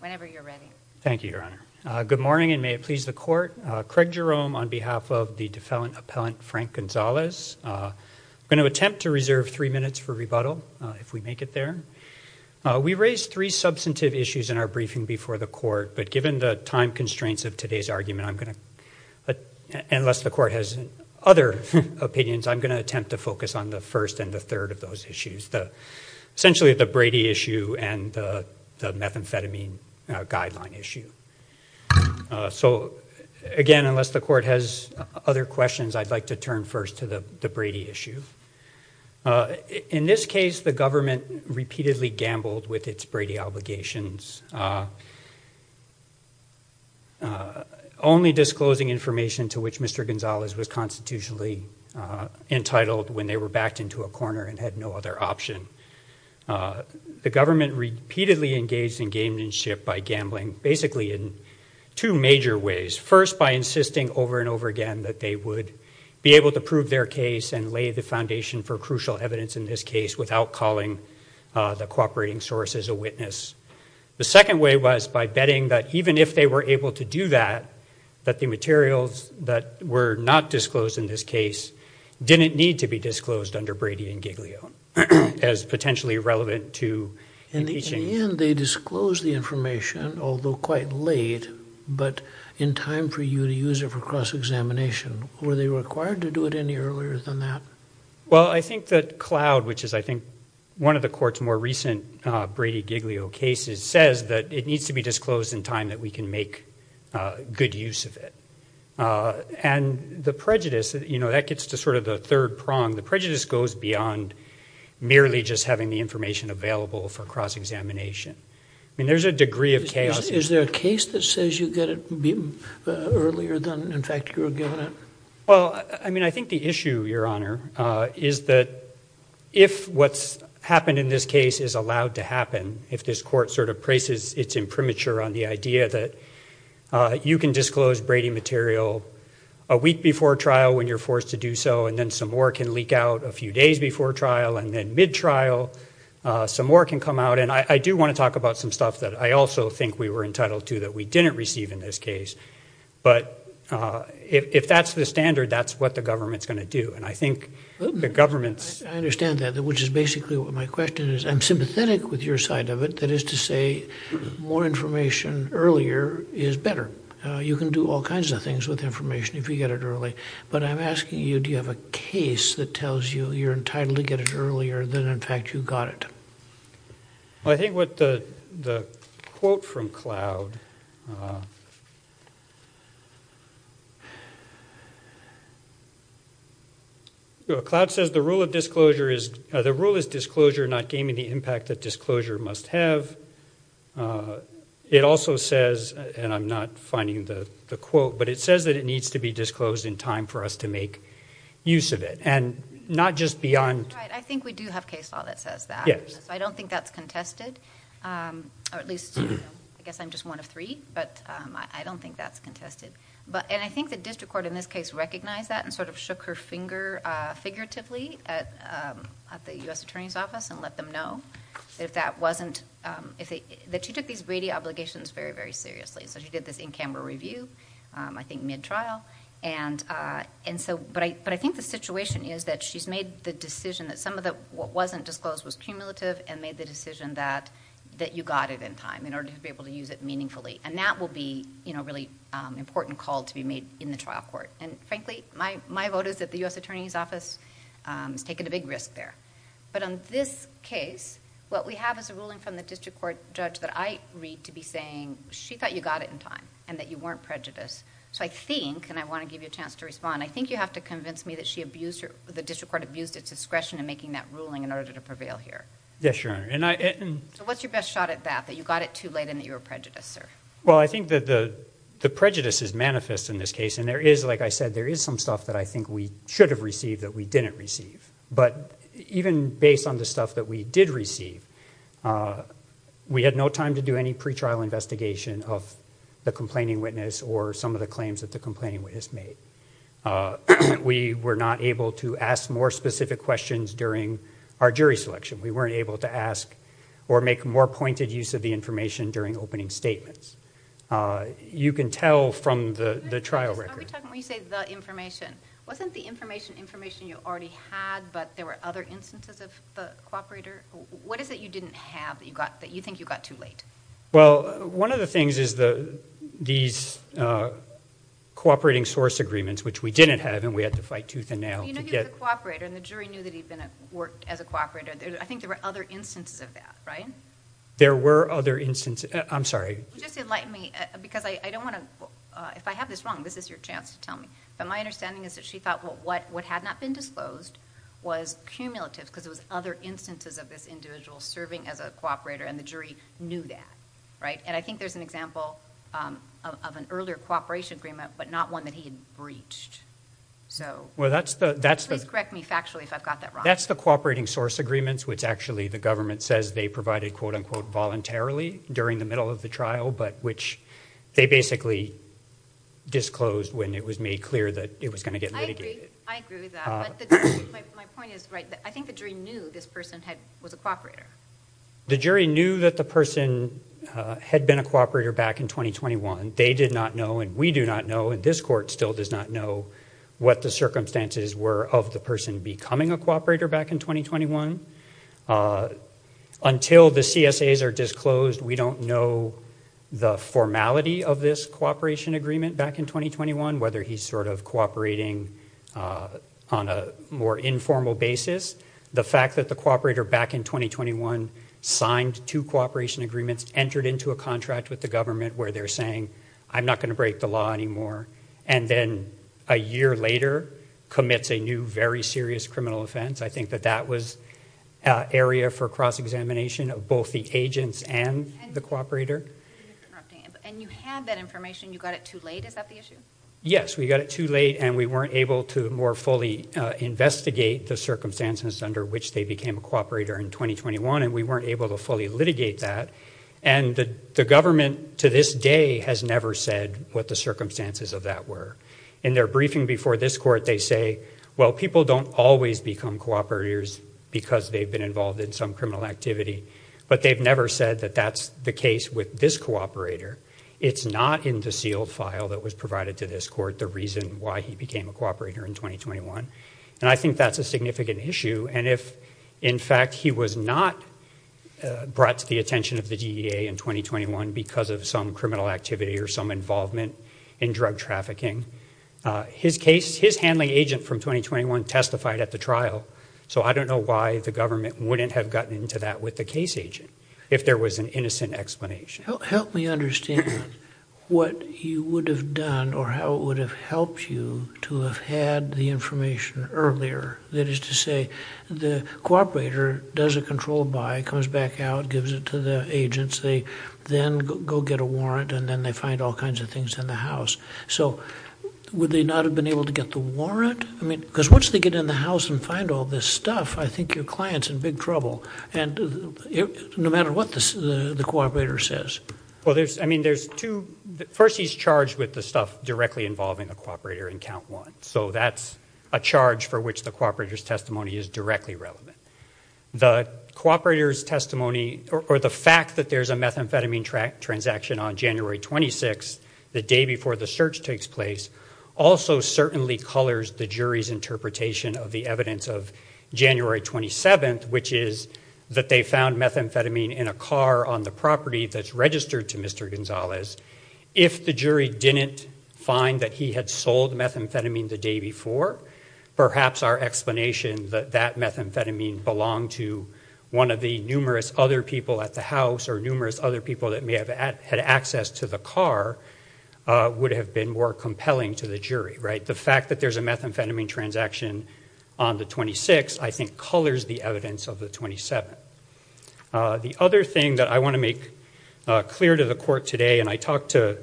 Whenever you're ready. Thank you, Your Honor. Good morning and may it please the court. Craig Jerome on behalf of the defendant appellant Frank Gonzales. I'm going to attempt to reserve three minutes for rebuttal if we make it there. We raised three substantive issues in our briefing before the court but given the time constraints of today's argument I'm going to, unless the court has other opinions, I'm going to attempt to focus on the first and the third of those issues, the essentially the Brady issue and the methamphetamine guideline issue. So again unless the court has other questions I'd like to turn first to the the Brady issue. In this case the government repeatedly gambled with its Brady obligations only disclosing information to which Mr. Gonzales was constitutionally entitled when they were backed into a corner and had no other option. The government repeatedly engaged in gamemanship by gambling basically in two major ways. First by insisting over and over again that they would be able to prove their case and lay the foundation for crucial evidence in this case without calling the cooperating sources a witness. The second way was by betting that even if they were able to do that, that the materials that were not disclosed in this case didn't need to be disclosed under Brady and Giglio as potentially relevant to impeaching. In the end they disclosed the information although quite late but in time for you to use it for cross examination. Were they required to do it any earlier than that? Well I think that Cloud which is I think one of the court's more recent Brady Giglio cases says that it needs to be disclosed in time that we can make good use of it and the prejudice you know that gets to sort of the third prong. The prejudice goes beyond merely just having the information available for cross examination. I mean there's a degree of chaos. Is there a case that says you get it earlier than in fact you were given it? Well I mean I think the issue Your Honor is that if what's happened in this case is allowed to happen, if this court sort of places its imprimatur on the idea that you can disclose Brady material a week before trial when you're forced to do so and then some more can leak out a few days before trial and then mid trial some more can come out and I do want to talk about some stuff that I also think we were entitled to that we didn't receive in this case but if that's the standard that's what the government's going to do and I think the government's. I understand that which is basically what my question is. I'm sympathetic with your side of it that is to say more information earlier is better. You can do all kinds of things with information if you get it early but I'm asking you do you have a case that tells you you're entitled to get it earlier than in fact you got it? I think what the the quote from Cloud. Cloud says the rule of disclosure is the rule is disclosure not gaming the impact that disclosure must have. It also says and I'm not finding the the quote but it says that it needs to be disclosed in time for us to make use of it and not just beyond. I think we do have case law that says that yes I don't think that's contested or at least I guess I'm just one of three but I don't think that's contested but and I think the district court in this case recognized that and sort of shook her finger figuratively at at the US Attorney's Office and let them know if that wasn't if they that she took these Brady obligations very very seriously so she did this in-camera review I think mid-trial and and so but I but I think the situation is that she's made the decision that some of the what wasn't disclosed was cumulative and made the decision that that you got it in time in order to be able to use it meaningfully and that will be you know really important call to be made in the trial court and frankly my my vote is that the US Attorney's Office is taking a big risk there but on this case what we have is a ruling from the district court judge that I read to be saying she thought you got it in time and that you weren't prejudiced so I think and I want to give you a chance to respond I think you have to convince me that she abused her the district court abused its discretion in making that ruling in order to prevail here yes your honor and I and what's your best shot at that that you got it too late and that you were prejudiced sir well I think that the the prejudices manifest in this case and there is like I said there is some stuff that I think we should have received that we didn't receive but even based on the stuff that we did receive we had no to do any pre-trial investigation of the complaining witness or some of the claims that the complaining witness made we were not able to ask more specific questions during our jury selection we weren't able to ask or make more pointed use of the information during opening statements you can tell from the the trial record information wasn't the information information you already had but there were other instances of the cooperator what is it you didn't have that you got that you think you got too late well one of the things is the these cooperating source agreements which we didn't have and we had to fight tooth and nail I think there were other instances of that right there were other instances I'm sorry just enlighten me because I don't want to if I have this wrong this is your chance to tell me but my understanding is that she thought what what had not been disclosed was cumulative because it was other instances of this individual serving as a cooperator and the jury knew that right and I think there's an example of an earlier cooperation agreement but not one that he had breached so well that's the that's the correct me factually if I've got that right that's the cooperating source agreements which actually the government says they provided quote-unquote voluntarily during the middle of the trial but which they basically disclosed when it was made clear that it was going to get the jury knew that the person had been a cooperator back in 2021 they did not know and we do not know and this court still does not know what the circumstances were of the person becoming a cooperator back in 2021 until the CSAs are disclosed we don't know the formality of this cooperation agreement back in 2021 whether he's sort of cooperating on a more informal basis the fact that the cooperator back in 2021 signed two cooperation agreements entered into a contract with the government where they're saying I'm not going to break the law anymore and then a year later commits a new very serious criminal offense I think that that was area for cross-examination of both the agents and the cooperator yes we got it too late and we weren't able to more fully investigate the circumstances under which they became a cooperator in 2021 and we weren't able to fully litigate that and the government to this day has never said what the circumstances of that were in their briefing before this court they say well people don't always become cooperators because they've been involved in some criminal activity but they've never said that that's the case with this cooperator it's not in the sealed file that was provided to this court the reason why he became a cooperator in 2021 and I think that's a significant issue and if in fact he was not brought to the attention of the DEA in 2021 because of some criminal activity or some involvement in drug trafficking his case his handling agent from 2021 testified at the trial so I don't know why the government wouldn't have gotten into that with the case agent if there was an innocent explanation help me understand what you would have done or how it would have helped you to have had the information earlier that is to say the cooperator does a control by comes back out gives it to the agents they then go get a warrant and then they find all kinds of things in the house so would they not have been able to get the warrant I mean because once they get in the house and find all this stuff I think your clients in big trouble and no matter what this is the cooperator says well there's I mean there's two first he's charged with the stuff directly involving the cooperator in count one so that's a charge for which the cooperators testimony is directly relevant the cooperators testimony or the fact that there's a methamphetamine on January 26 the day before the search takes place also certainly colors the jury's interpretation of the evidence of January 27th which is that they found methamphetamine in a car on the property that's registered to mr. Gonzalez if the jury didn't find that he had sold methamphetamine the day before perhaps our explanation that that methamphetamine belonged to one of the numerous other people at the house or numerous other people that may have had access to the car would have been more compelling to the jury right the fact that there's a methamphetamine transaction on the 26th I think colors the evidence of the 27th the other thing that I want to make clear to the court today and I talked to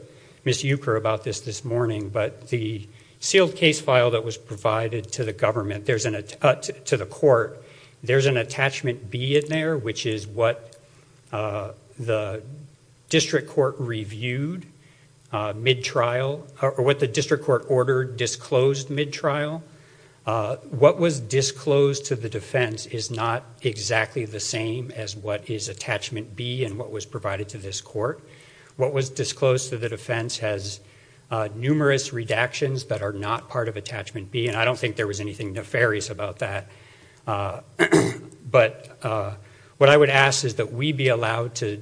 miss Euchre about this this morning but the sealed case file that was provided to the government there's an attempt to the court there's an attachment B in there which is what the district court reviewed mid-trial or what the district court ordered disclosed mid-trial what was disclosed to the defense is not exactly the same as what is attachment B and what was provided to this court what was disclosed to the defense has numerous redactions that are not part of attachment B and I don't think there was anything nefarious about that but what I would ask is that we be allowed to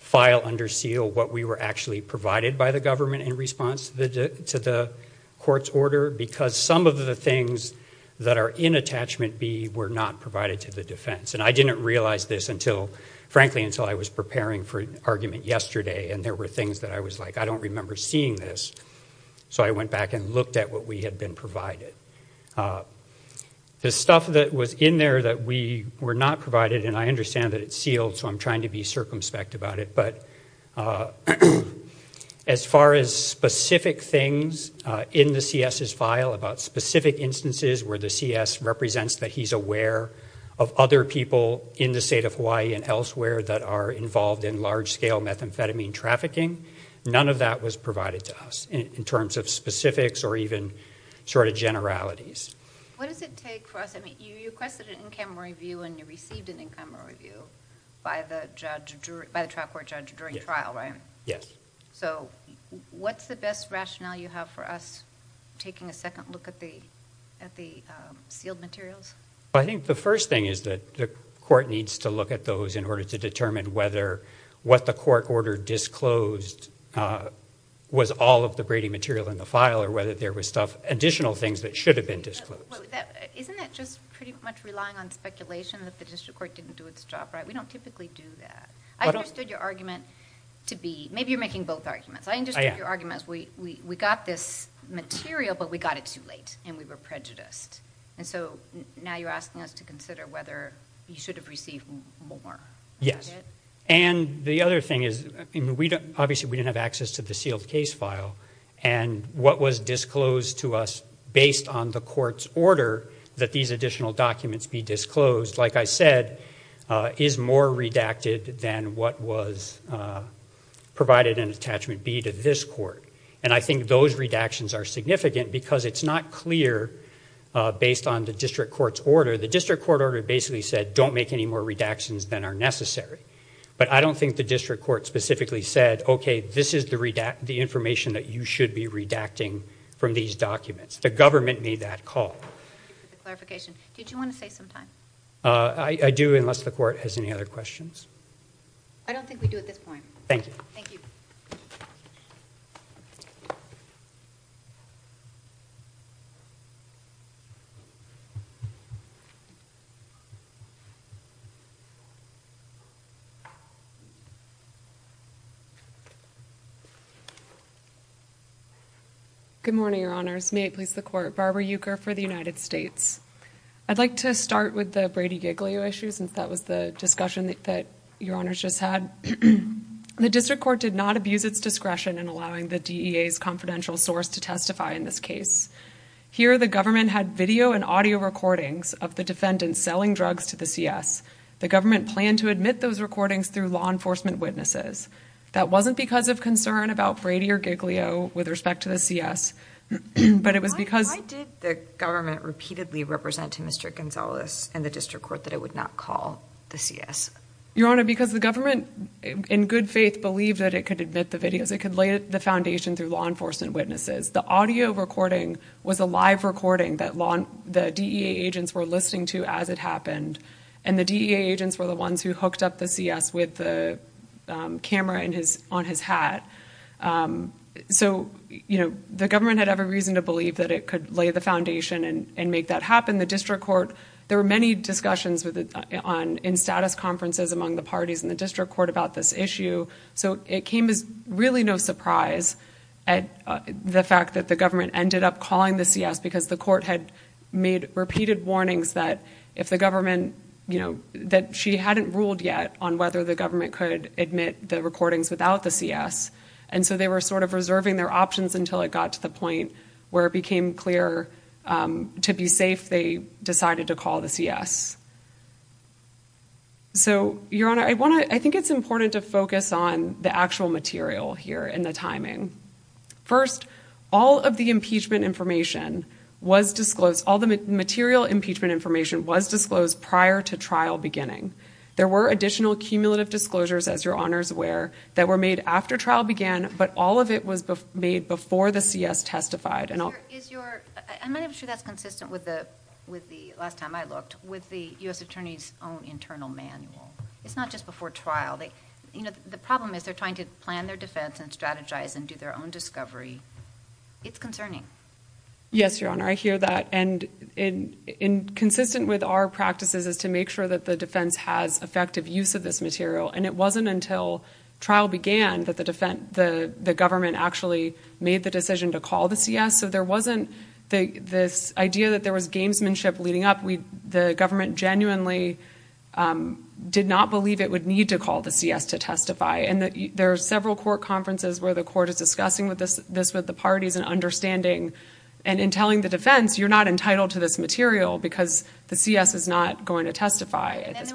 file under seal what we were actually provided by the government in response to the court's order because some of the things that are in attachment B were not provided to the defense and I didn't realize this until frankly until I was preparing for an argument yesterday and there were things that I was like I don't remember seeing this so I went back and looked at what we had been provided the stuff that was in there that we were not provided and I understand that it's sealed so I'm trying to be circumspect about it but as far as specific things in the CS's file about specific instances where the CS represents that he's aware of other people in the state of Hawaii and elsewhere that are involved in large-scale methamphetamine trafficking none of that was provided to us in terms of specifics or even sort of generalities what does it take for us I mean you requested an in-camera review and you received an in-camera review by the judge by the trial court judge during trial right yes so what's the best rationale you have for us taking a second look at the at the sealed materials I think the first thing is that the court needs to look at those in order to determine whether what the court ordered disclosed was all of the Brady material in the file or whether there was stuff additional things that should have been disclosed relying on speculation that the district court didn't do its job right we don't typically do that I understood your argument to be maybe you're making both arguments I understand your arguments we we got this material but we got it too late and we were prejudiced and so now you're asking us to consider whether you yes and the other thing is we don't obviously we didn't have access to the sealed case file and what was disclosed to us based on the court's order that these additional documents be disclosed like I said is more redacted than what was provided an attachment be to this court and I think those redactions are significant because it's not clear based on the district court's order the district court order basically said don't make any more redactions than are necessary but I don't think the district court specifically said okay this is the redact the information that you should be redacting from these documents the government made that call I do unless the court has any other questions you good morning your honors may it please the court Barbara Euchre for the United States I'd like to start with the Brady Giglio issue since that was the discussion that your honors just had the district court did not abuse its discretion in allowing the DEA's confidential source to testify in this here the government had video and audio recordings of the defendants selling drugs to the CS the government planned to admit those recordings through law enforcement witnesses that wasn't because of concern about Brady or Giglio with respect to the CS but it was because the government repeatedly represented mr. Gonzalez and the district court that it would not call the CS your honor because the government in good faith believed that it could admit the videos it could lay the foundation through law enforcement witnesses the audio recording was a live recording that long the DEA agents were listening to as it happened and the DEA agents were the ones who hooked up the CS with the camera in his on his hat so you know the government had every reason to believe that it could lay the foundation and make that happen the district court there were many discussions with it on in status conferences among the parties in the district court about this issue so it came as really no surprise at the fact that the government ended up calling the CS because the court had made repeated warnings that if the government you know that she hadn't ruled yet on whether the government could admit the recordings without the CS and so they were sort of reserving their options until it got to the point where it became clear to be safe they decided to call the CS so your honor I want to I think it's important to focus on the actual material here in the timing first all of the impeachment information was disclosed all the material impeachment information was disclosed prior to trial beginning there were additional cumulative disclosures as your honors aware that were made after trial began but all of it was made before the CS testified and I'm sure that's consistent with the with the last time I looked with the u.s. attorneys own internal manual it's not just before trial they you know the problem is they're trying to plan their defense and strategize and do their own discovery it's concerning yes your honor I hear that and in in consistent with our practices is to make sure that the defense has effective use of this material and it wasn't until trial began that the defense the the government actually made the decision to call the CS so there wasn't the this idea that there was gamesmanship leading up we the government genuinely did not believe it would need to call the CS to testify and that there are several court conferences where the court is discussing with this this with the parties and understanding and in telling the defense you're not entitled to this material because the CS is not going to testify that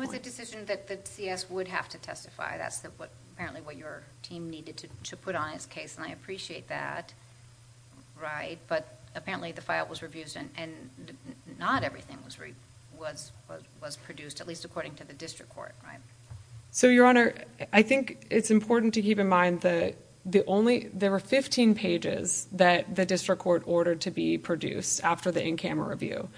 the CS would have to testify that's what apparently what your team needed to put on his case and I appreciate that right but apparently the file was reviewed and not everything was was produced at least according to the district court so your honor I think it's important to keep in mind that the only there were 15 pages that the district court ordered to be produced after the in-camera review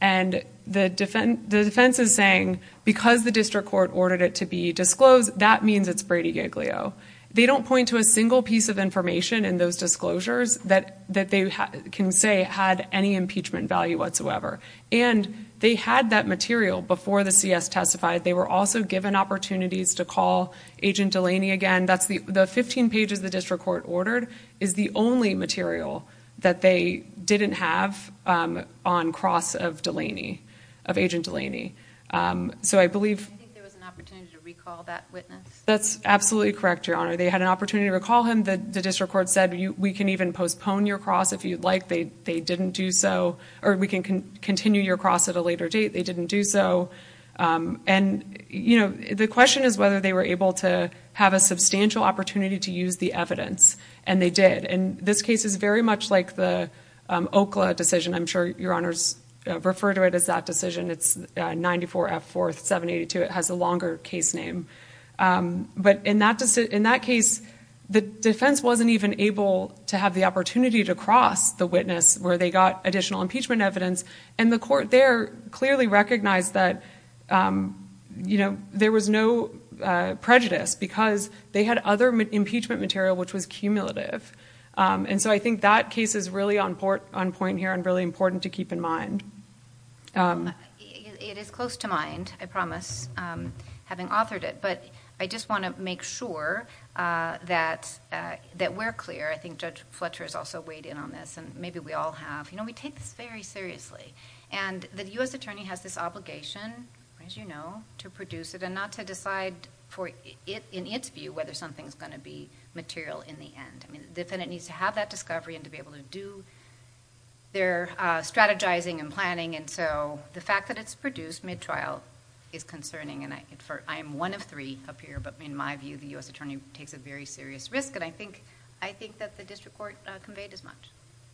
and the defense the defense is saying because the district court ordered it to be disclosed that means it's Brady Giglio they don't point to a single piece of information in those disclosures that that they can say had any impeachment value whatsoever and they had that material before the CS testified they were also given opportunities to call agent Delaney again that's the the 15 pages the district court ordered is the only material that they didn't have on cross of Delaney of agent Delaney so I believe that's absolutely correct your honor they had an opportunity to recall him that the district court said we can even postpone your cross if you'd like they they didn't do so or we can can continue your cross at a later date they didn't do so and you know the question is whether they were able to have a substantial opportunity to use the evidence and they did and this case is very much like the Okla decision I'm sure your honors refer to it as that decision it's 94 f4 782 it has a longer case name but in that in that case the defense wasn't even able to have the opportunity to cross the witness where they got additional impeachment evidence and the court there clearly recognized that you know there was no prejudice because they had other impeachment material which was cumulative and so I think that case is really on port on point here and really important to keep in mind it is close to mind I promise having authored it but I just want to make sure that that we're clear I think judge Fletcher is also weighed in on this and maybe we all have you know we take this very seriously and the u.s. attorney has this obligation as you know to produce it and not to decide for it in its view whether something's going to be material in the end I mean defendant needs to have that discovery and to be able to do their strategizing and planning and so the fact that it's produced mid-trial is concerning and I infer I am one of three up here but in my view the u.s. attorney takes a very serious risk and I think I think that the district court conveyed as much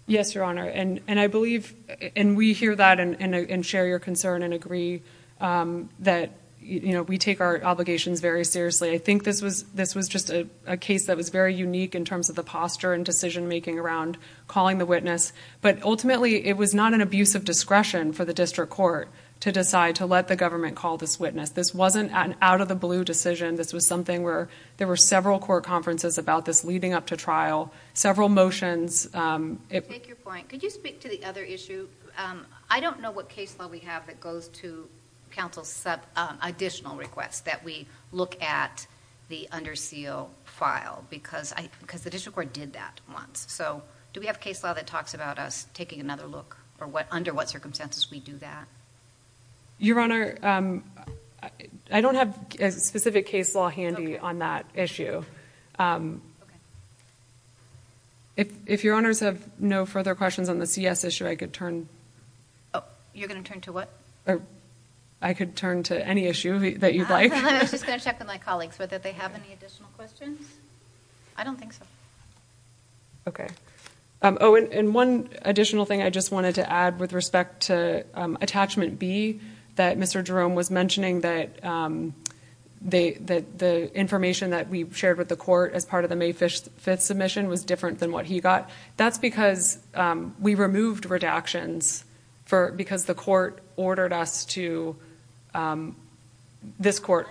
yes your honor and and I believe and we hear that and share your concern and agree that you know we take our obligations very seriously I think this was this was just a case that was very unique in terms of the posture and decision-making around calling the witness but ultimately it was not an abuse of discretion for the district court to decide to let the government call this witness this wasn't an out-of-the-blue decision this was something where there were several core conferences about this leading up to trial several motions I don't know what case law we have that goes to counsel sub additional requests that we look at the under seal file because I because the district court did that once so do we have case law that talks about us taking another look or what under what circumstances we do that your honor I don't have a specific case law handy on that issue if your honors have no further questions on this yes issue I could turn oh you're gonna turn to what I could turn to any issue that my colleagues with it they have any additional questions I don't think so okay oh and one additional thing I just wanted to add with respect to attachment B that mr. Jerome was mentioning that they that the information that we shared with the court as part of the May 5th submission was different than what he got that's because we removed redactions for because the court ordered us to this court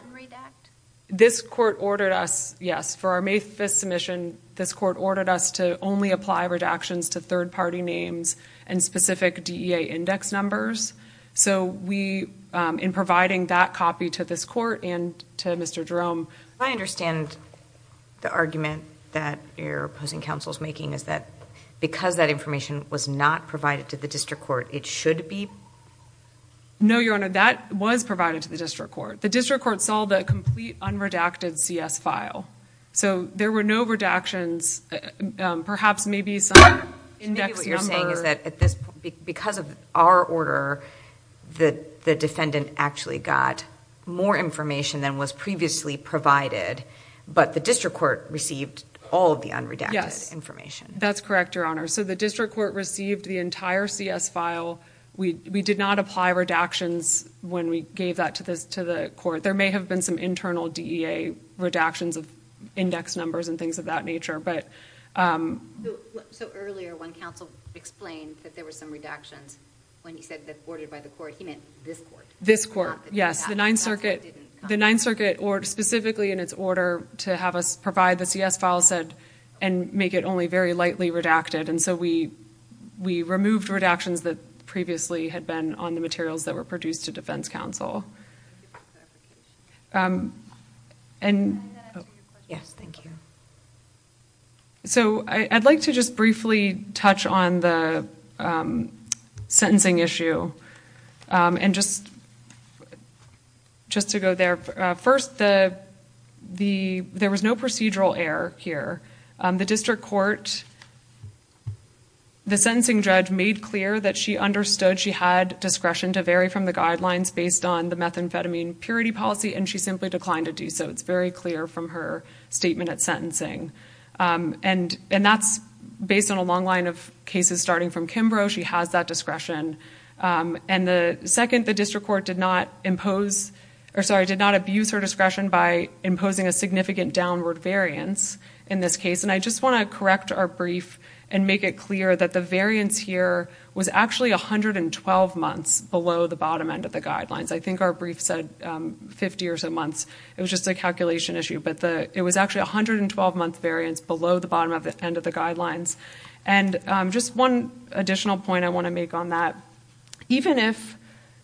this court ordered us yes for our May 5th submission this court ordered us to only apply redactions to third-party names and specific DEA index numbers so we in providing that copy to this court and to mr. Jerome I understand the argument that you're opposing counsel's making is that because that information was not provided to the district court it should be no your honor that was provided to the district court the district court saw the complete unredacted CS file so there were no redactions perhaps maybe some index you're saying is that at this because of our order that the defendant actually got more information than was previously provided but the district court received all of the unredacted information that's correct your honor so the district court received the entire CS file we did not apply redactions when we gave that to this to the court there may have been some internal DEA redactions of index numbers and things of that nature but this court yes the Ninth Circuit the Ninth Circuit or specifically in its order to have us very lightly redacted and so we we removed redactions that previously had been on the materials that were produced to defense counsel and so I'd like to just briefly touch on the sentencing issue and just just to go there first the the there was no procedural error here the district court the sentencing judge made clear that she understood she had discretion to vary from the guidelines based on the methamphetamine purity policy and she simply declined to do so it's very clear from her statement at sentencing and and that's based on a long line of cases starting from Kimbrough she has that discretion and the second the district court did not impose or sorry did not abuse her discretion by imposing a significant downward variance in this case and I just want to correct our brief and make it clear that the variance here was actually a hundred and twelve months below the bottom end of the guidelines I think our brief said 50 or so months it was just a calculation issue but the it was actually a hundred and twelve month variance below the bottom of the end of the guidelines and just one additional point I want to make on that even if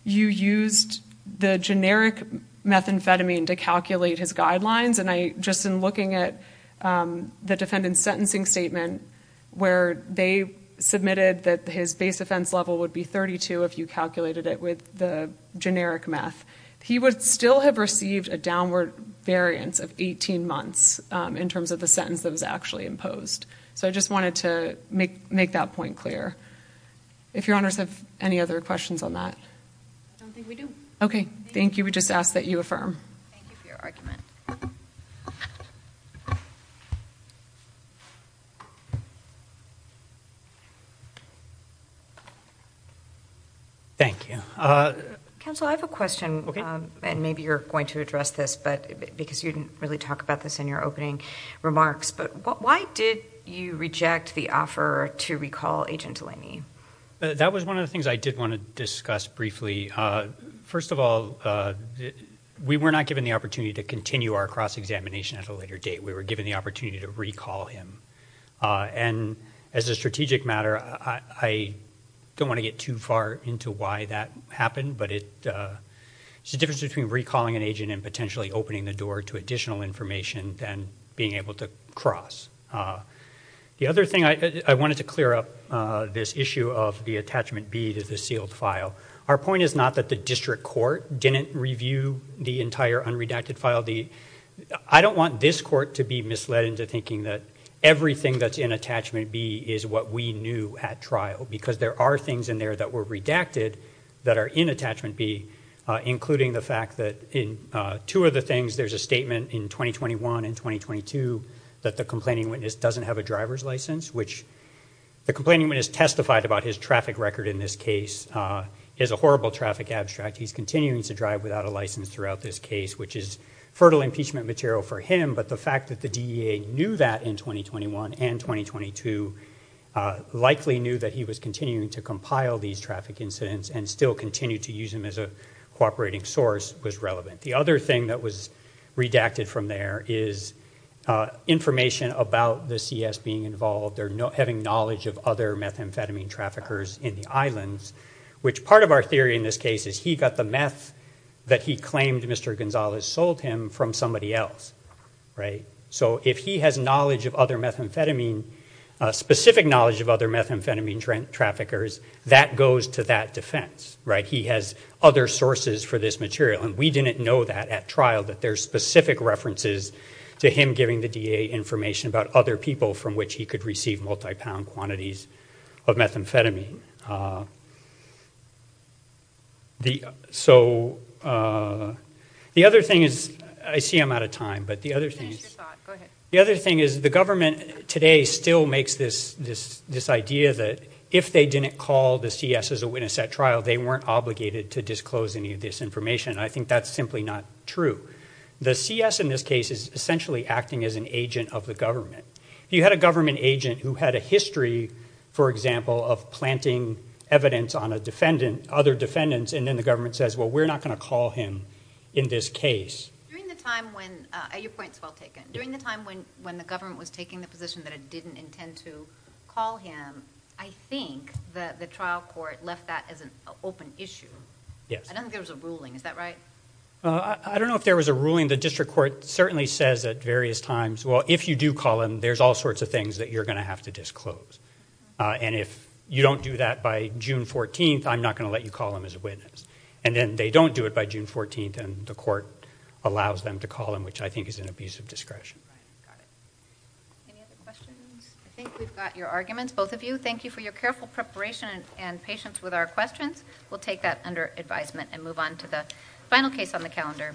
you used the generic methamphetamine to calculate his guidelines and I just in looking at the defendant's sentencing statement where they submitted that his base offense level would be 32 if you calculated it with the generic meth he would still have received a downward variance of 18 months in terms of the sentence that was actually imposed so I just wanted to make make that point clear if your honors have any other questions on that okay thank you we just asked that you affirm thank you council I have a question okay and maybe you're going to address this but because you didn't really talk about this in your opening remarks but why did you reject the offer to recall agent Delaney that was one of the things I did want to discuss briefly first of all we were not given the opportunity to continue our cross-examination at a later date we were given the opportunity to recall him and as a strategic matter I don't want to get too far into why that happened but it it's a difference between recalling an agent and potentially opening the door to additional information than being able to cross the other thing I wanted to clear up this issue of the attachment B to the sealed file our point is not that the district court didn't review the entire unredacted file the I don't want this court to be misled into thinking that everything that's in attachment B is what we knew at trial because there are things in there that were redacted that are in attachment B including the fact that in two of the things there's a statement in 2021 and 2022 that the complaining witness doesn't have a driver's license which the complaining witness testified about his traffic record in this case is a horrible traffic abstract he's continuing to drive without a license throughout this case which is fertile impeachment material for him but the fact that the DEA knew that in 2021 and 2022 likely knew that he was continuing to compile these traffic incidents and still continue to use him as a cooperating source was relevant the other thing that was redacted from there is information about the CS being involved they're not having knowledge of other methamphetamine traffickers in the islands which part of our theory in this case is he got the meth that he claimed mr. Gonzales sold him from somebody else right so if he has knowledge of other methamphetamine specific knowledge of other methamphetamine trend traffickers that goes to that defense right he has other sources for this material and we didn't know that at trial that there's specific references to him giving the DEA information about other people from which he could receive multi-pound quantities of methamphetamine the so the other thing is I see I'm out of time but the other thing the other thing is the government today still makes this this this idea that if they didn't call the yes as a witness at trial they weren't obligated to disclose any of this information I think that's simply not true the CS in this case is essentially acting as an agent of the government if you had a government agent who had a history for example of planting evidence on a defendant other defendants and then the government says well we're not going to call him in this case when when the government was taking the position that it didn't intend to call him I think the trial court left that as an open issue yes I don't think there was a ruling is that right I don't know if there was a ruling the district court certainly says at various times well if you do call him there's all sorts of things that you're going to have to disclose and if you don't do that by June 14th I'm not going to let you call him as a witness and then they don't do it by June 14th and the court allows them to call him which I think is an abuse of discretion your arguments both of you thank you for your careful preparation and patience with our questions we'll take that under advisement and move on to the final case on the calendar